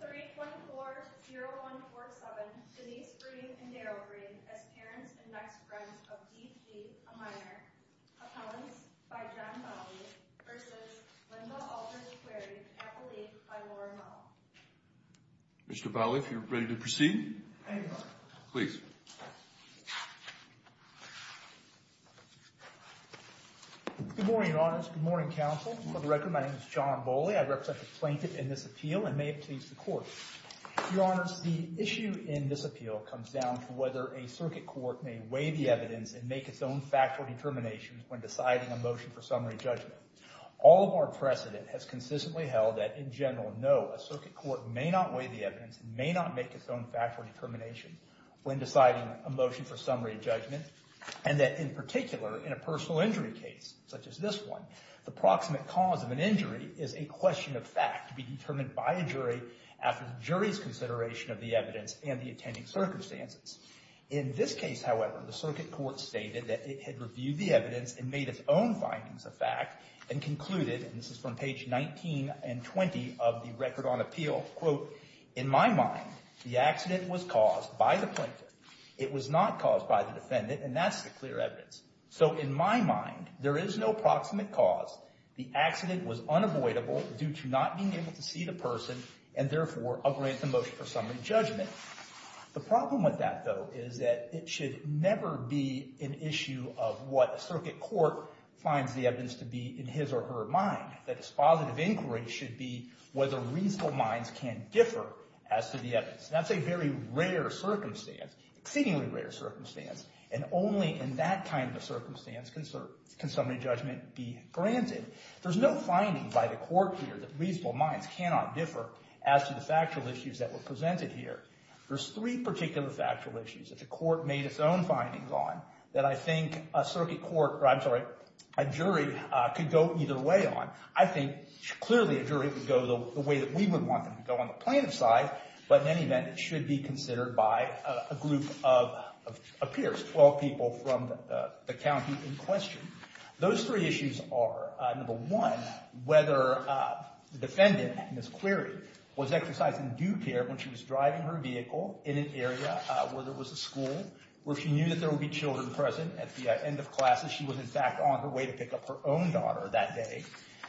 324-0147 Denise Breed and Daryl Breed as parents and ex-friends of D.P. Amayor, appellants by John Bolley v. Linda v. Querrey, appellee by Lauren Hull. Mr. Bolley, if you're ready to proceed. Thank you. Please. Good morning, Your Honors. Good morning, Counsel. For the record, my name is John Bolley. I represent the plaintiff in this appeal and may it please the Court. Your Honors, the issue in this appeal comes down to whether a circuit court may weigh the evidence and make its own factual determination when deciding a motion for summary judgment. All of our precedent has consistently held that, in general, no, a circuit court may not weigh the evidence and may not make its own factual determination when deciding a motion for summary judgment and that, in particular, in a personal injury case, such as this one, the proximate cause of an injury is a question of fact to be determined by a jury after the jury's consideration of the evidence and the attending circumstances. In this case, however, the circuit court stated that it had reviewed the evidence and made its own findings of fact and concluded, and this is from page 19 and 20 of the record on appeal, quote, in my mind, the accident was caused by the plaintiff. It was not caused by the defendant, and that's the clear evidence. So, in my mind, there is no proximate cause. The accident was unavoidable due to not being able to see the person and, therefore, a granted motion for summary judgment. The problem with that, though, is that it should never be an issue of what a circuit court finds the evidence to be in his or her mind. That its positive inquiry should be whether reasonable minds can differ as to the evidence. That's a very rare circumstance, exceedingly rare circumstance, and only in that kind of circumstance can summary judgment be granted. There's no finding by the court here that reasonable minds cannot differ as to the factual issues that were presented here. There's three particular factual issues that the court made its own findings on that I think a circuit court, or I'm sorry, a jury could go either way on. I think clearly a jury could go the way that we would want them to go on the plaintiff's side, but in any event, it should be considered by a group of peers, 12 people from the county in question. Those three issues are, number one, whether the defendant in this query was exercising due care when she was driving her vehicle in an area where there was a school, where she knew that there would be children present at the end of classes. She was, in fact, on her way to pick up her own daughter that day.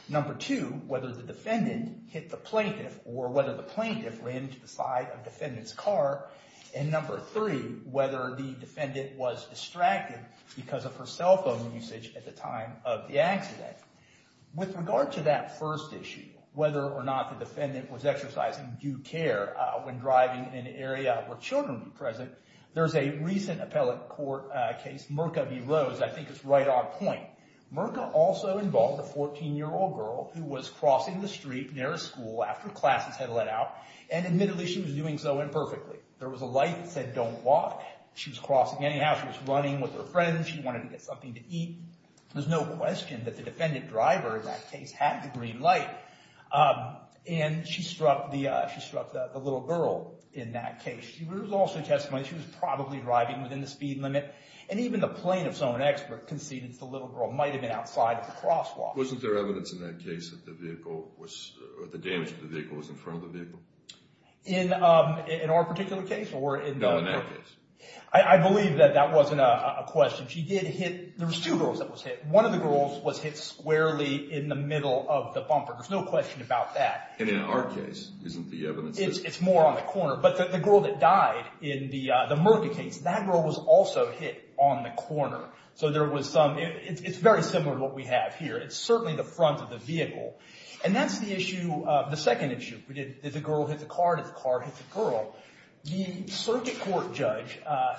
Number two, whether the defendant hit the plaintiff or whether the plaintiff ran to the side of defendant's car. And number three, whether the defendant was distracted because of her cell phone usage at the time of the accident. With regard to that first issue, whether or not the defendant was exercising due care when driving in an area where children were present, there's a recent appellate court case, Mirka v. Rose. I think it's right on point. Mirka also involved a 14-year-old girl who was crossing the street near a school after classes had let out. And admittedly, she was doing so imperfectly. There was a light that said, don't walk. She was crossing anyhow. She was running with her friends. She wanted to get something to eat. There's no question that the defendant driver in that case had the green light. And she struck the little girl in that case. There was also testimony that she was probably driving within the speed limit. And even the plaintiff's own expert conceded that the little girl might have been outside of the crosswalk. Wasn't there evidence in that case that the damage to the vehicle was in front of the vehicle? In our particular case? No, in that case. I believe that that wasn't a question. She did hit. There was two girls that was hit. One of the girls was hit squarely in the middle of the bumper. There's no question about that. And in our case, isn't the evidence? It's more on the corner. But the girl that died in the murder case, that girl was also hit on the corner. So it's very similar to what we have here. It's certainly the front of the vehicle. And that's the second issue. Did the girl hit the car? Did the car hit the girl? The circuit court judge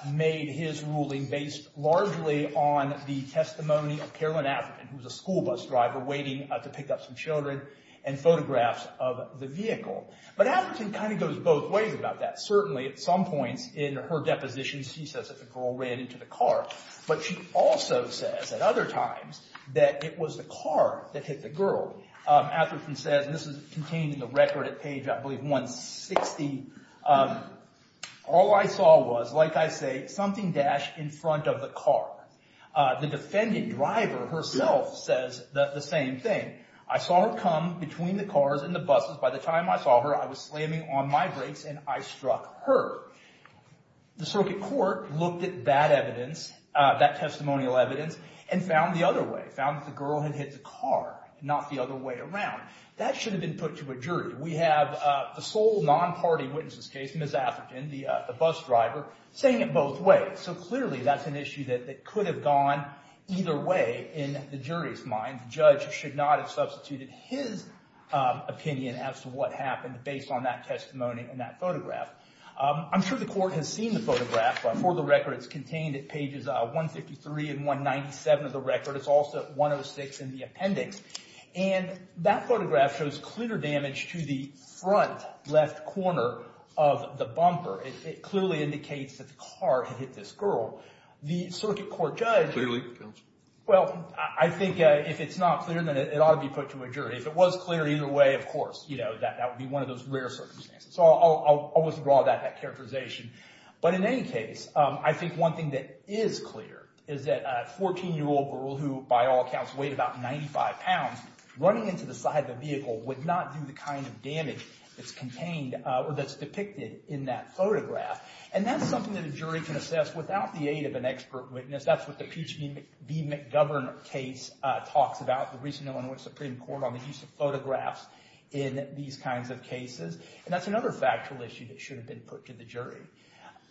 made his ruling based largely on the testimony of Carolyn Atherton, who was a school bus driver waiting to pick up some children, and photographs of the vehicle. But Atherton kind of goes both ways about that. Certainly, at some points in her depositions, she says that the girl ran into the car. But she also says at other times that it was the car that hit the girl. Atherton says, and this is contained in the record at page, I believe, 160. All I saw was, like I say, something dashed in front of the car. The defending driver herself says the same thing. I saw her come between the cars and the buses. By the time I saw her, I was slamming on my brakes, and I struck her. The circuit court looked at that evidence, that testimonial evidence, and found the other way, found that the girl had hit the car, not the other way around. That should have been put to a jury. We have the sole non-party witness's case, Ms. Atherton, the bus driver, saying it both ways. So clearly that's an issue that could have gone either way in the jury's mind. The judge should not have substituted his opinion as to what happened based on that testimony and that photograph. I'm sure the court has seen the photograph. For the record, it's contained at pages 153 and 197 of the record. It's also at 106 in the appendix. And that photograph shows clear damage to the front left corner of the bumper. It clearly indicates that the car had hit this girl. The circuit court judge— Clearly, counsel. Well, I think if it's not clear, then it ought to be put to a jury. If it was clear either way, of course, you know, that would be one of those rare circumstances. So I'll withdraw that characterization. But in any case, I think one thing that is clear is that a 14-year-old girl who, by all accounts, weighed about 95 pounds, running into the side of the vehicle would not do the kind of damage that's contained or that's depicted in that photograph. And that's something that a jury can assess without the aid of an expert witness. That's what the Peachtree v. McGovern case talks about, the recent Illinois Supreme Court, on the use of photographs in these kinds of cases. And that's another factual issue that should have been put to the jury.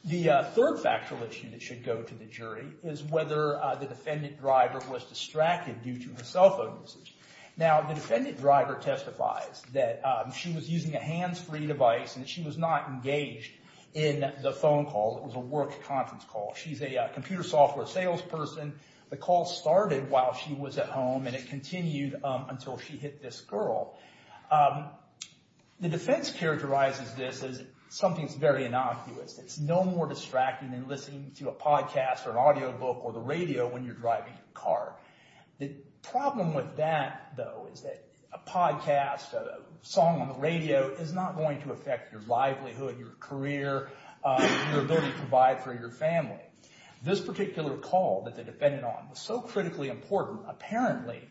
The third factual issue that should go to the jury is whether the defendant driver was distracted due to her cell phone usage. Now, the defendant driver testifies that she was using a hands-free device and she was not engaged in the phone call. It was a work conference call. She's a computer software salesperson. The call started while she was at home and it continued until she hit this girl. The defense characterizes this as something that's very innocuous. It's no more distracting than listening to a podcast or an audiobook or the radio when you're driving your car. The problem with that, though, is that a podcast, a song on the radio, is not going to affect your livelihood, your career, your ability to provide for your family. This particular call that the defendant on was so critically important, apparently,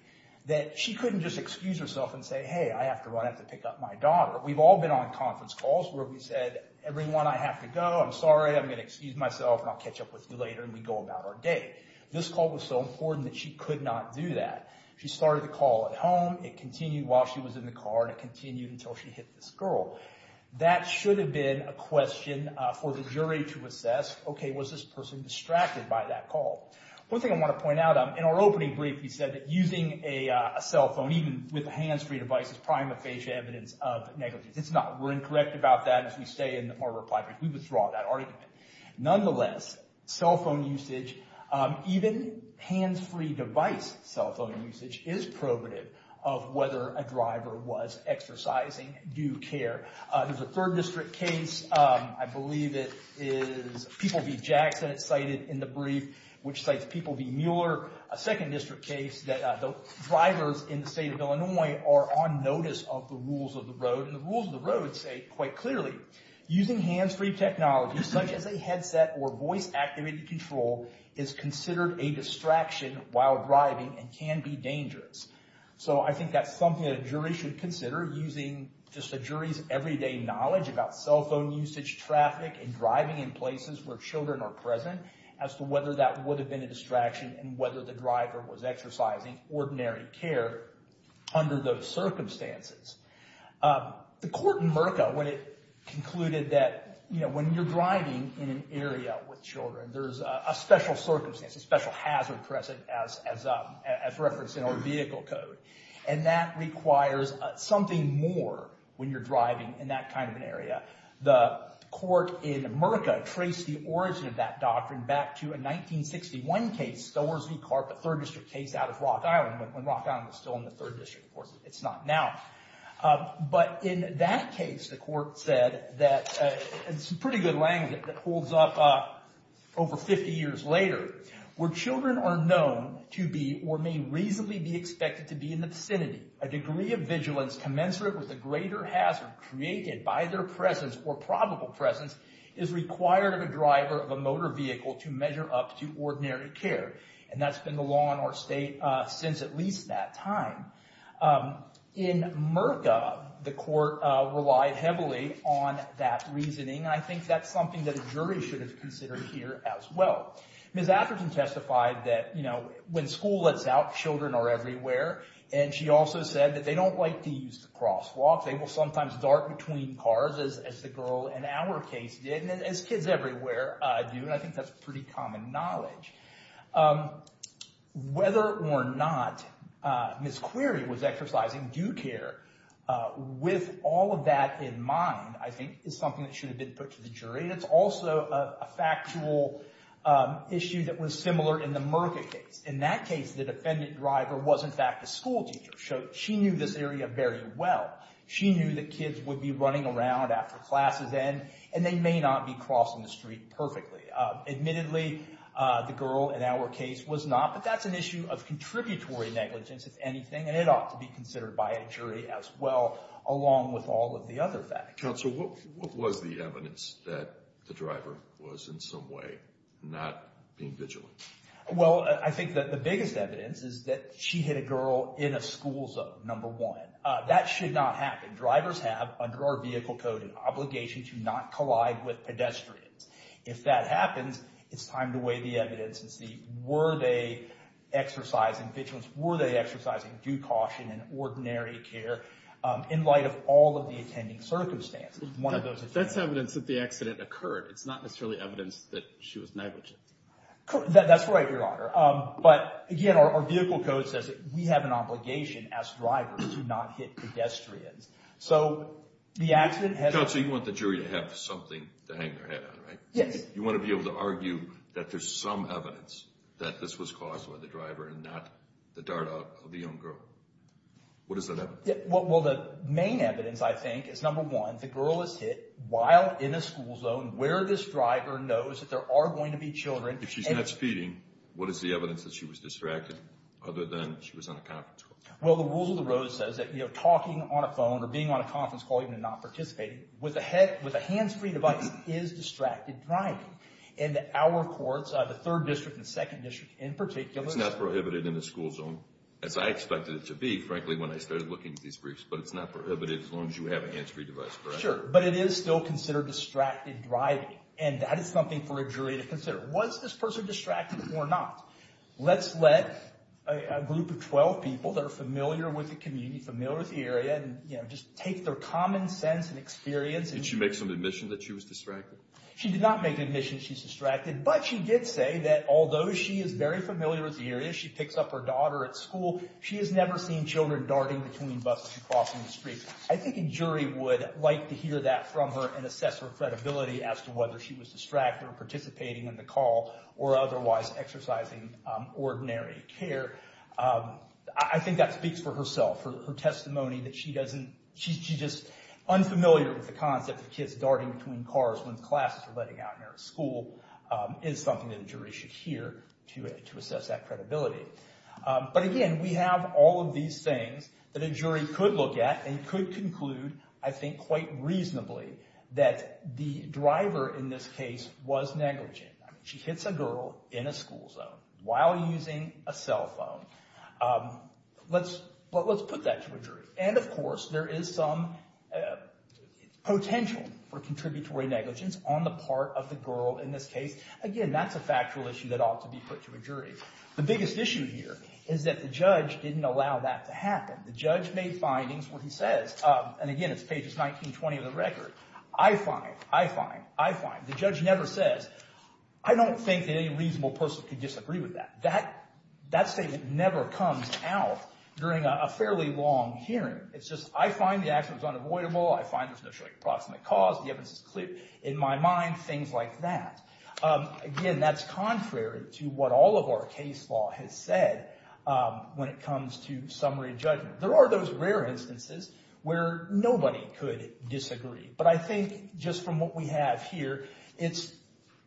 that she couldn't just excuse herself and say, hey, I have to run. I have to pick up my daughter. We've all been on conference calls where we've said, everyone, I have to go. I'm sorry. I'm going to excuse myself and I'll catch up with you later and we go about our day. This call was so important that she could not do that. She started the call at home. It continued while she was in the car and it continued until she hit this girl. That should have been a question for the jury to assess, okay, was this person distracted by that call? One thing I want to point out, in our opening brief, we said that using a cell phone, even with a hands-free device, is prima facie evidence of negligence. It's not. We're incorrect about that. As we say in our reply brief, we withdraw that argument. Nonetheless, cell phone usage, even hands-free device cell phone usage, is probative of whether a driver was exercising due care. There's a third district case. I believe it is People v. Jackson. It's cited in the brief, which cites People v. Mueller. A second district case that the drivers in the state of Illinois are on notice of the rules of the road. The rules of the road say, quite clearly, using hands-free technology, such as a headset or voice-activated control, is considered a distraction while driving and can be dangerous. I think that's something that a jury should consider, using just a jury's everyday knowledge about cell phone usage, traffic, and driving in places where children are present, as to whether that would have been a distraction and whether the driver was exercising ordinary care under those circumstances. The court in Merca, when it concluded that, you know, when you're driving in an area with children, there's a special circumstance, a special hazard present as referenced in our vehicle code, and that requires something more when you're driving in that kind of an area. The court in Merca traced the origin of that doctrine back to a 1961 case, Stowers v. Clark, a third district case out of Rock Island, when Rock Island was still in the third district. Of course, it's not now. But in that case, the court said that, in some pretty good language that holds up over 50 years later, where children are known to be or may reasonably be expected to be in the vicinity, a degree of vigilance commensurate with a greater hazard created by their presence or probable presence is required of a driver of a motor vehicle to measure up to ordinary care. And that's been the law in our state since at least that time. In Merca, the court relied heavily on that reasoning, and I think that's something that a jury should have considered here as well. Ms. Atherton testified that, you know, when school lets out, children are everywhere, and she also said that they don't like to use the crosswalk. They will sometimes dart between cars, as the girl in our case did, and as kids everywhere do, and I think that's pretty common knowledge. Whether or not Ms. Query was exercising due care, with all of that in mind, I think, is something that should have been put to the jury. And it's also a factual issue that was similar in the Merca case. In that case, the defendant driver was, in fact, a schoolteacher. She knew this area very well. She knew that kids would be running around after class is in, and they may not be crossing the street perfectly. Admittedly, the girl in our case was not, but that's an issue of contributory negligence, if anything, and it ought to be considered by a jury as well, along with all of the other facts. Counsel, what was the evidence that the driver was in some way not being vigilant? Well, I think that the biggest evidence is that she hit a girl in a school zone, number one. That should not happen. Drivers have, under our vehicle code, an obligation to not collide with pedestrians. If that happens, it's time to weigh the evidence and see were they exercising vigilance, were they exercising due caution and ordinary care, in light of all of the attending circumstances. That's evidence that the accident occurred. It's not necessarily evidence that she was negligent. That's right, Your Honor. But, again, our vehicle code says that we have an obligation as drivers to not hit pedestrians. So the accident has… Counsel, you want the jury to have something to hang their head on, right? Yes. You want to be able to argue that there's some evidence that this was caused by the driver and not the dart out of the young girl. What is that evidence? Well, the main evidence, I think, is, number one, the girl is hit while in a school zone where this driver knows that there are going to be children. If she's not speeding, what is the evidence that she was distracted, other than she was on a conference call? Well, the rules of the road says that, you know, talking on a phone or being on a conference call, even if not participating, with a hands-free device is distracted driving. And our courts, the 3rd District and 2nd District in particular… It's not prohibited in the school zone, as I expected it to be, frankly, when I started looking at these briefs. But it's not prohibited as long as you have a hands-free device, correct? Sure, sure. But it is still considered distracted driving, and that is something for a jury to consider. Was this person distracted or not? Let's let a group of 12 people that are familiar with the community, familiar with the area, and, you know, just take their common sense and experience… Did she make some admission that she was distracted? She did not make an admission that she was distracted, but she did say that although she is very familiar with the area, she picks up her daughter at school, she has never seen children darting between buses and crossing the street. I think a jury would like to hear that from her and assess her credibility as to whether she was distracted or participating in the call or otherwise exercising ordinary care. I think that speaks for herself. Her testimony that she doesn't… She's just unfamiliar with the concept of kids darting between cars when classes are letting out near a school is something that a jury should hear to assess that credibility. But again, we have all of these things that a jury could look at and could conclude, I think quite reasonably, that the driver in this case was negligent. She hits a girl in a school zone while using a cell phone. Let's put that to a jury. And, of course, there is some potential for contributory negligence on the part of the girl in this case. Again, that's a factual issue that ought to be put to a jury. The biggest issue here is that the judge didn't allow that to happen. The judge made findings where he says, and again, it's pages 19 and 20 of the record, I find, I find, I find, the judge never says, I don't think that any reasonable person could disagree with that. That statement never comes out during a fairly long hearing. It's just, I find the accident was unavoidable, I find there's no short or proximate cause, the evidence is clear in my mind, things like that. Again, that's contrary to what all of our case law has said when it comes to summary judgment. There are those rare instances where nobody could disagree. But I think just from what we have here, it's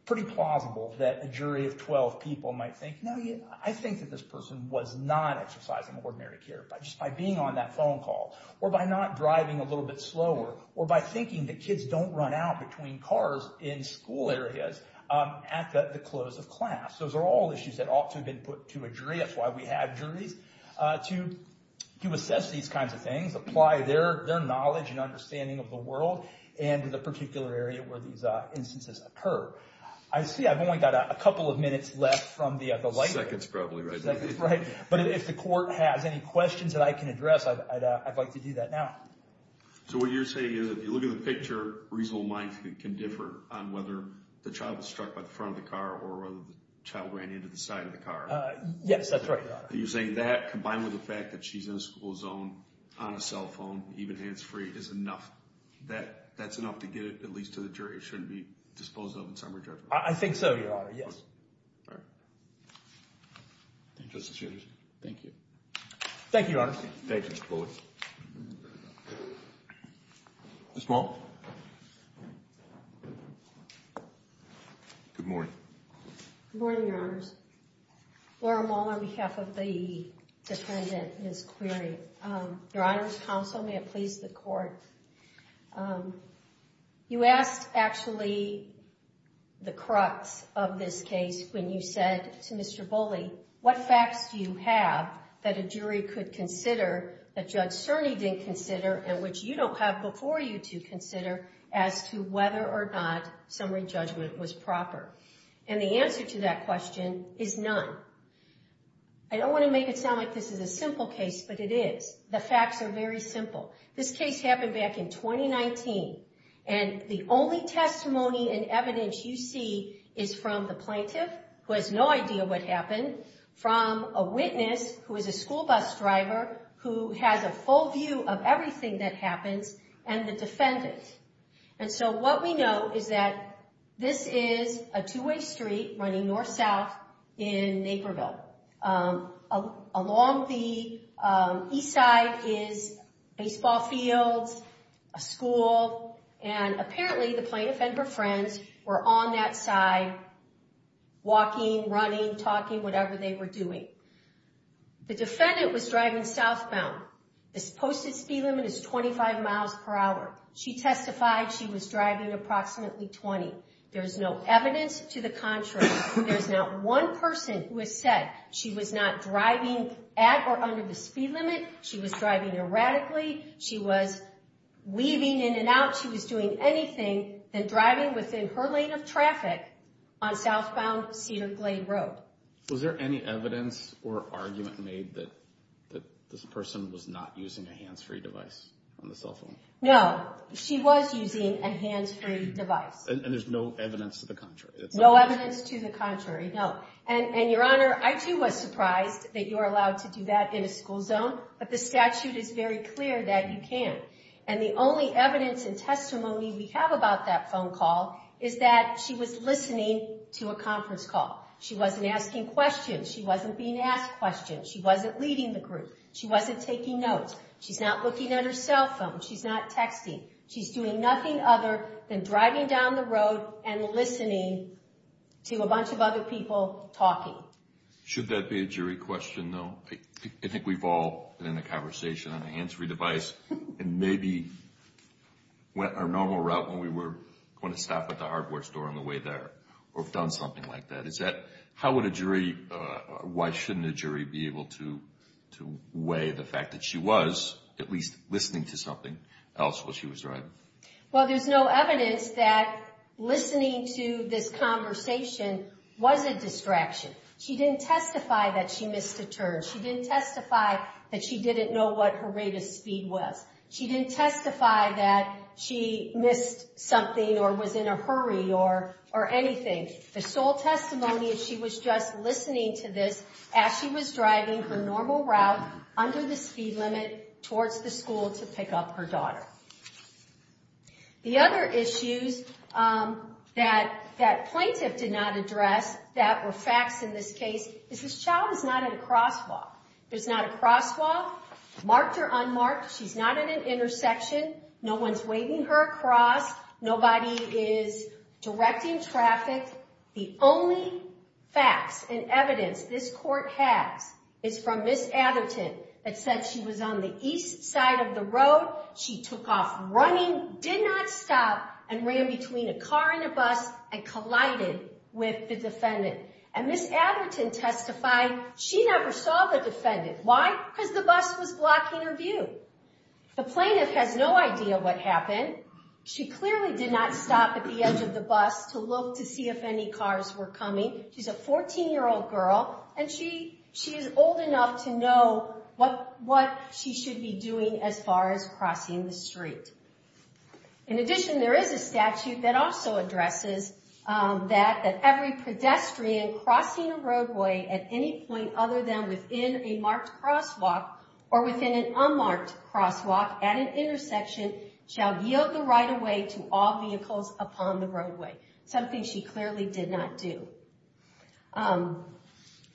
pretty plausible that a jury of 12 people might think, no, I think that this person was not exercising ordinary care just by being on that phone call or by not driving a little bit slower or by thinking that kids don't run out between cars in school areas at the close of class. Those are all issues that ought to have been put to a jury, that's why we have juries, to assess these kinds of things, apply their knowledge and understanding of the world and the particular area where these instances occur. I see I've only got a couple of minutes left from the light. Seconds probably, right? Seconds, right. But if the court has any questions that I can address, I'd like to do that now. So what you're saying is, if you look at the picture, reasonable minds can differ on whether the child was struck by the front of the car or whether the child ran into the side of the car. Yes, that's right, Your Honor. You're saying that, combined with the fact that she's in a school zone, on a cell phone, even hands-free, is enough. That's enough to get it at least to the jury. It shouldn't be disposed of in summary judgment. I think so, Your Honor, yes. All right. Thank you, Justice Andrews. Thank you. Thank you, Your Honor. Thank you, Mr. Bullock. Ms. Maul. Good morning. Good morning, Your Honors. Laura Maul on behalf of the defendant, Ms. Query. Your Honors, counsel, may it please the Court. You asked, actually, the crux of this case when you said to Mr. Bullock, actually, what facts do you have that a jury could consider that Judge Cerny didn't consider and which you don't have before you to consider as to whether or not summary judgment was proper? And the answer to that question is none. I don't want to make it sound like this is a simple case, but it is. The facts are very simple. This case happened back in 2019, and the only testimony and evidence you see is from the plaintiff, who has no idea what happened, from a witness, who is a school bus driver, who has a full view of everything that happens, and the defendant. And so what we know is that this is a two-way street running north-south in Naperville. Along the east side is baseball fields, a school, and apparently the plaintiff and her friends were on that side walking, running, talking, whatever they were doing. The defendant was driving southbound. This posted speed limit is 25 miles per hour. She testified she was driving approximately 20. There's no evidence to the contrary. There's not one person who has said she was not driving at or under the speed limit, she was driving erratically, she was weaving in and out, she was doing anything than driving within her lane of traffic on southbound Cedar Glade Road. Was there any evidence or argument made that this person was not using a hands-free device on the cell phone? No. She was using a hands-free device. And there's no evidence to the contrary? No evidence to the contrary, no. And, Your Honor, I, too, was surprised that you were allowed to do that in a school zone, but the statute is very clear that you can. And the only evidence and testimony we have about that phone call is that she was listening to a conference call. She wasn't asking questions. She wasn't being asked questions. She wasn't leading the group. She wasn't taking notes. She's not looking at her cell phone. She's not texting. She's doing nothing other than driving down the road and listening to a bunch of other people talking. Should that be a jury question, though? I think we've all been in a conversation on a hands-free device and maybe went our normal route when we were going to stop at the hardware store on the way there or have done something like that. How would a jury or why shouldn't a jury be able to weigh the fact that she was at least listening to something else while she was driving? Well, there's no evidence that listening to this conversation was a distraction. She didn't testify that she missed a turn. She didn't testify that she didn't know what her rate of speed was. She didn't testify that she missed something or was in a hurry or anything. The sole testimony is she was just listening to this as she was driving her normal route under the speed limit towards the school to pick up her daughter. The other issues that that plaintiff did not address that were facts in this case is this child is not at a crosswalk. There's not a crosswalk, marked or unmarked. She's not at an intersection. No one's waving her cross. Nobody is directing traffic. The only facts and evidence this court has is from Ms. Atherton that said she was on the east side of the road. She took off running, did not stop, and ran between a car and a bus and collided with the defendant. Ms. Atherton testified she never saw the defendant. Why? Because the bus was blocking her view. The plaintiff has no idea what happened. She clearly did not stop at the edge of the bus to look to see if any cars were coming. She's a 14-year-old girl, and she is old enough to know what she should be doing as far as crossing the street. In addition, there is a statute that also addresses that every pedestrian crossing a roadway at any point other than within a marked crosswalk or within an unmarked crosswalk at an intersection shall yield the right-of-way to all vehicles upon the roadway, something she clearly did not do.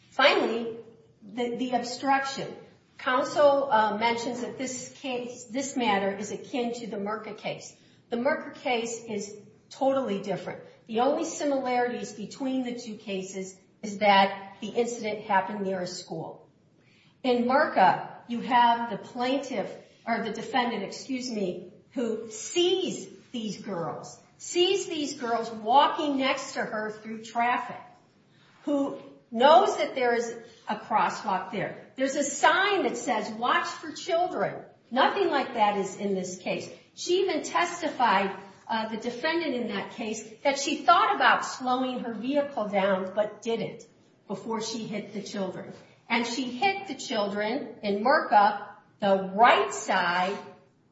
Finally, the obstruction. Counsel mentions that this case, this matter, is akin to the Murka case. The Murka case is totally different. The only similarities between the two cases is that the incident happened near a school. In Murka, you have the plaintiff, or the defendant, excuse me, who sees these girls, sees these girls walking next to her through traffic, who knows that there is a crosswalk there. There's a sign that says, Watch for Children. Nothing like that is in this case. She even testified, the defendant in that case, that she thought about slowing her vehicle down but didn't before she hit the children. And she hit the children in Murka. The right side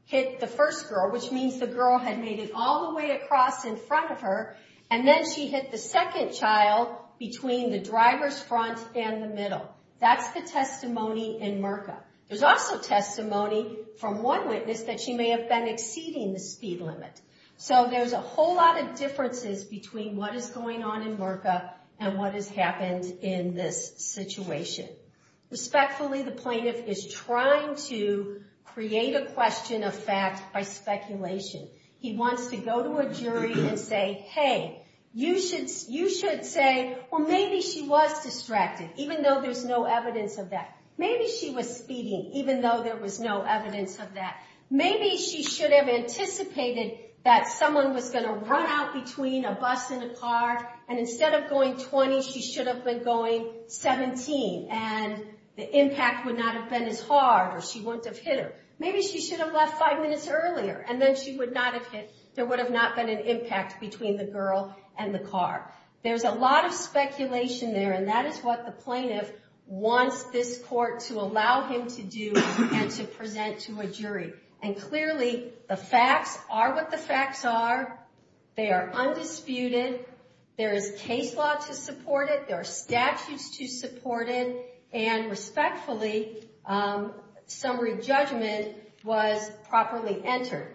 hit the first girl, which means the girl had made it all the way across in front of her, and then she hit the second child between the driver's front and the middle. That's the testimony in Murka. There's also testimony from one witness that she may have been exceeding the speed limit. So there's a whole lot of differences between what is going on in Murka and what has happened in this situation. Respectfully, the plaintiff is trying to create a question of fact by speculation. He wants to go to a jury and say, Hey, you should say, Well, maybe she was speeding, even though there was no evidence of that. Maybe she was speeding, even though there was no evidence of that. Maybe she should have anticipated that someone was going to run out between a bus and a car, and instead of going 20, she should have been going 17, and the impact would not have been as hard, or she wouldn't have hit her. Maybe she should have left five minutes earlier, and then she would not have hit. There would have not been an impact between the girl and the car. There's a lot of speculation there, and that is what the plaintiff wants this court to allow him to do and to present to a jury. Clearly, the facts are what the facts are. They are undisputed. There is case law to support it. There are statutes to support it. Respectfully, summary judgment was properly entered.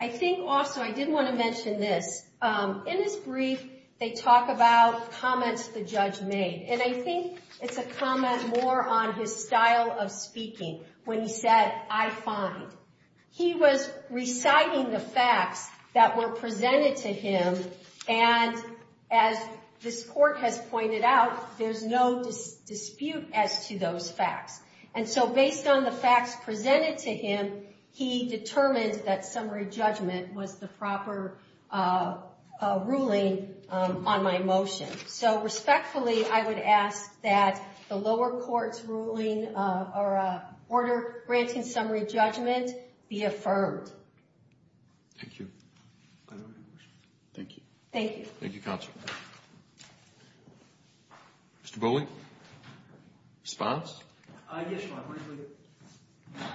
I think also I did want to mention this. In his brief, they talk about comments the judge made, and I think it's a comment more on his style of speaking when he said, I find. He was reciting the facts that were presented to him, and as this court has pointed out, there's no dispute as to those facts. And so based on the facts presented to him, he determined that summary judgment was the proper ruling on my motion. So respectfully, I would ask that the lower court's ruling or order granting summary judgment be affirmed. Thank you. Thank you. Thank you. Thank you, counsel. Mr. Boley? Response? Yes, Your Honor.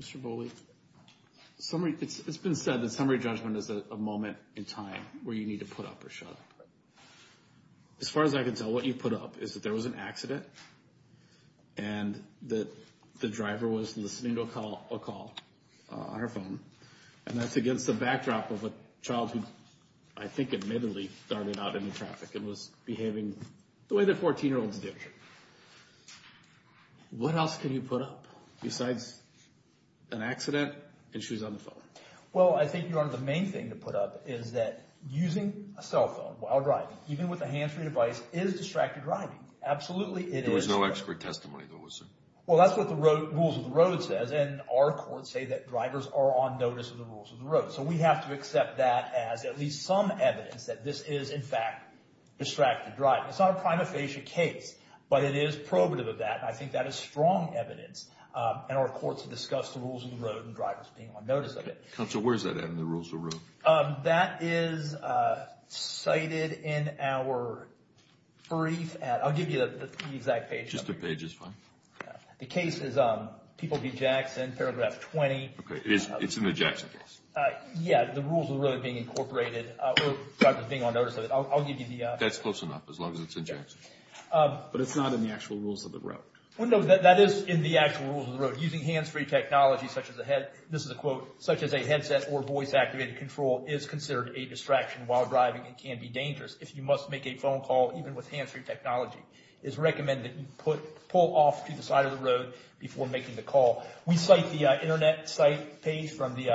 Mr. Boley, it's been said that summary judgment is a moment in time where you need to put up or shut up. As far as I can tell, what you put up is that there was an accident and that the driver was listening to a call on her phone, and that's against the backdrop of a child who I think admittedly started out in the traffic and was behaving the way that 14-year-olds do. What else can you put up besides an accident and she was on the phone? Well, I think, Your Honor, the main thing to put up is that using a cell phone while driving, even with a hands-free device, is distracted driving. Absolutely it is. There was no expert testimony, though, was there? Well, that's what the rules of the road says, and our courts say that drivers are on notice of the rules of the road. So we have to accept that as at least some evidence that this is, in fact, distracted driving. It's not a prima facie case, but it is probative of that. I think that is strong evidence, and our courts have discussed the rules of the road and drivers being on notice of it. Counsel, where is that in the rules of the road? That is cited in our brief. I'll give you the exact page number. Just the page is fine. The case is People v. Jackson, paragraph 20. Okay, it's in the Jackson case. Yeah, the rules of the road being incorporated or drivers being on notice of it. That's close enough, as long as it's in Jackson. But it's not in the actual rules of the road. No, that is in the actual rules of the road. Using hands-free technology, such as a headset or voice-activated control, is considered a distraction while driving and can be dangerous. If you must make a phone call, even with hands-free technology, it is recommended that you pull off to the side of the road before making the call. We cite the Internet site page from the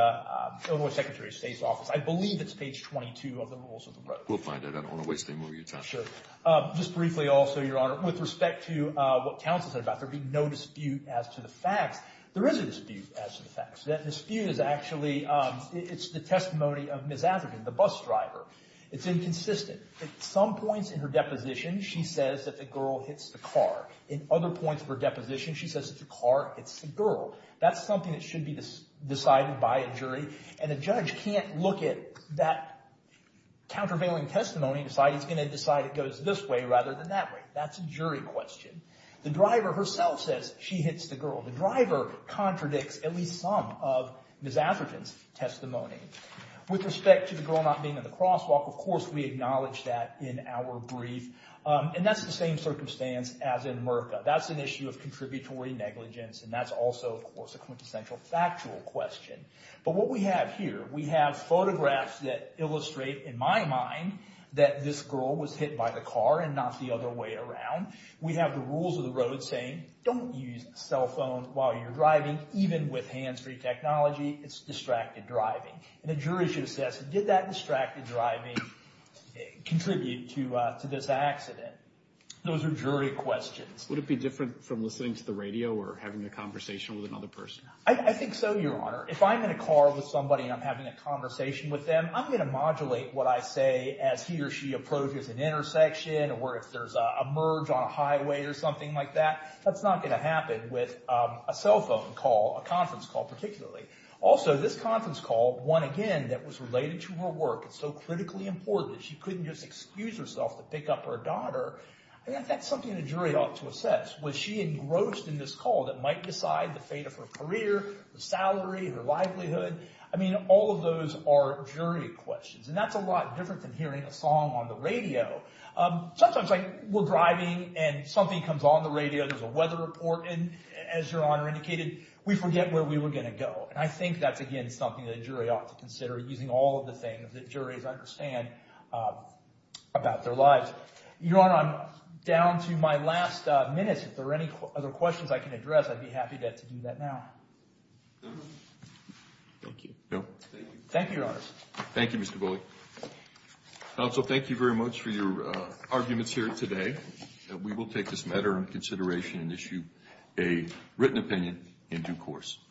Illinois Secretary of State's I believe it's page 22 of the rules of the road. We'll find it. I don't want to waste any more of your time. Just briefly also, Your Honor, with respect to what counsel said about there being no dispute as to the facts, there is a dispute as to the facts. That dispute is actually the testimony of Ms. Atherton, the bus driver. It's inconsistent. At some points in her deposition, she says that the girl hits the car. In other points of her deposition, she says that the car hits the girl. That's something that should be decided by a jury, and a judge can't look at that countervailing testimony and decide he's going to decide it goes this way rather than that way. That's a jury question. The driver herself says she hits the girl. The driver contradicts at least some of Ms. Atherton's testimony. With respect to the girl not being in the crosswalk, of course we acknowledge that in our brief, and that's the same circumstance as in Merka. That's an issue of contributory negligence, and that's also, of course, a quintessential factual question. But what we have here, we have photographs that illustrate, in my mind, that this girl was hit by the car and not the other way around. We have the rules of the road saying don't use cell phone while you're driving, even with hands-free technology. It's distracted driving. And the jury should assess, did that distracted driving contribute to this accident? Those are jury questions. Would it be different from listening to the radio or having a conversation with another person? I think so, Your Honor. If I'm in a car with somebody and I'm having a conversation with them, I'm going to modulate what I say as he or she approaches an intersection or if there's a merge on a highway or something like that. That's not going to happen with a cell phone call, a conference call particularly. Also, this conference call, one, again, that was related to her work, it's so critically important that she couldn't just excuse herself to pick up her daughter. That's something the jury ought to assess. Was she engrossed in this call that might decide the fate of her career, her salary, her livelihood? I mean, all of those are jury questions, and that's a lot different than hearing a song on the radio. Sometimes, like, we're driving and something comes on the radio, there's a weather report, and as Your Honor indicated, we forget where we were going to go. And I think that's, again, something the jury ought to consider, using all of the things that juries understand about their lives. Your Honor, I'm down to my last minutes. If there are any other questions I can address, I'd be happy to do that now. Thank you. Thank you, Your Honors. Thank you, Mr. Bulley. Counsel, thank you very much for your arguments here today. We will take this matter into consideration and issue a written opinion in due course.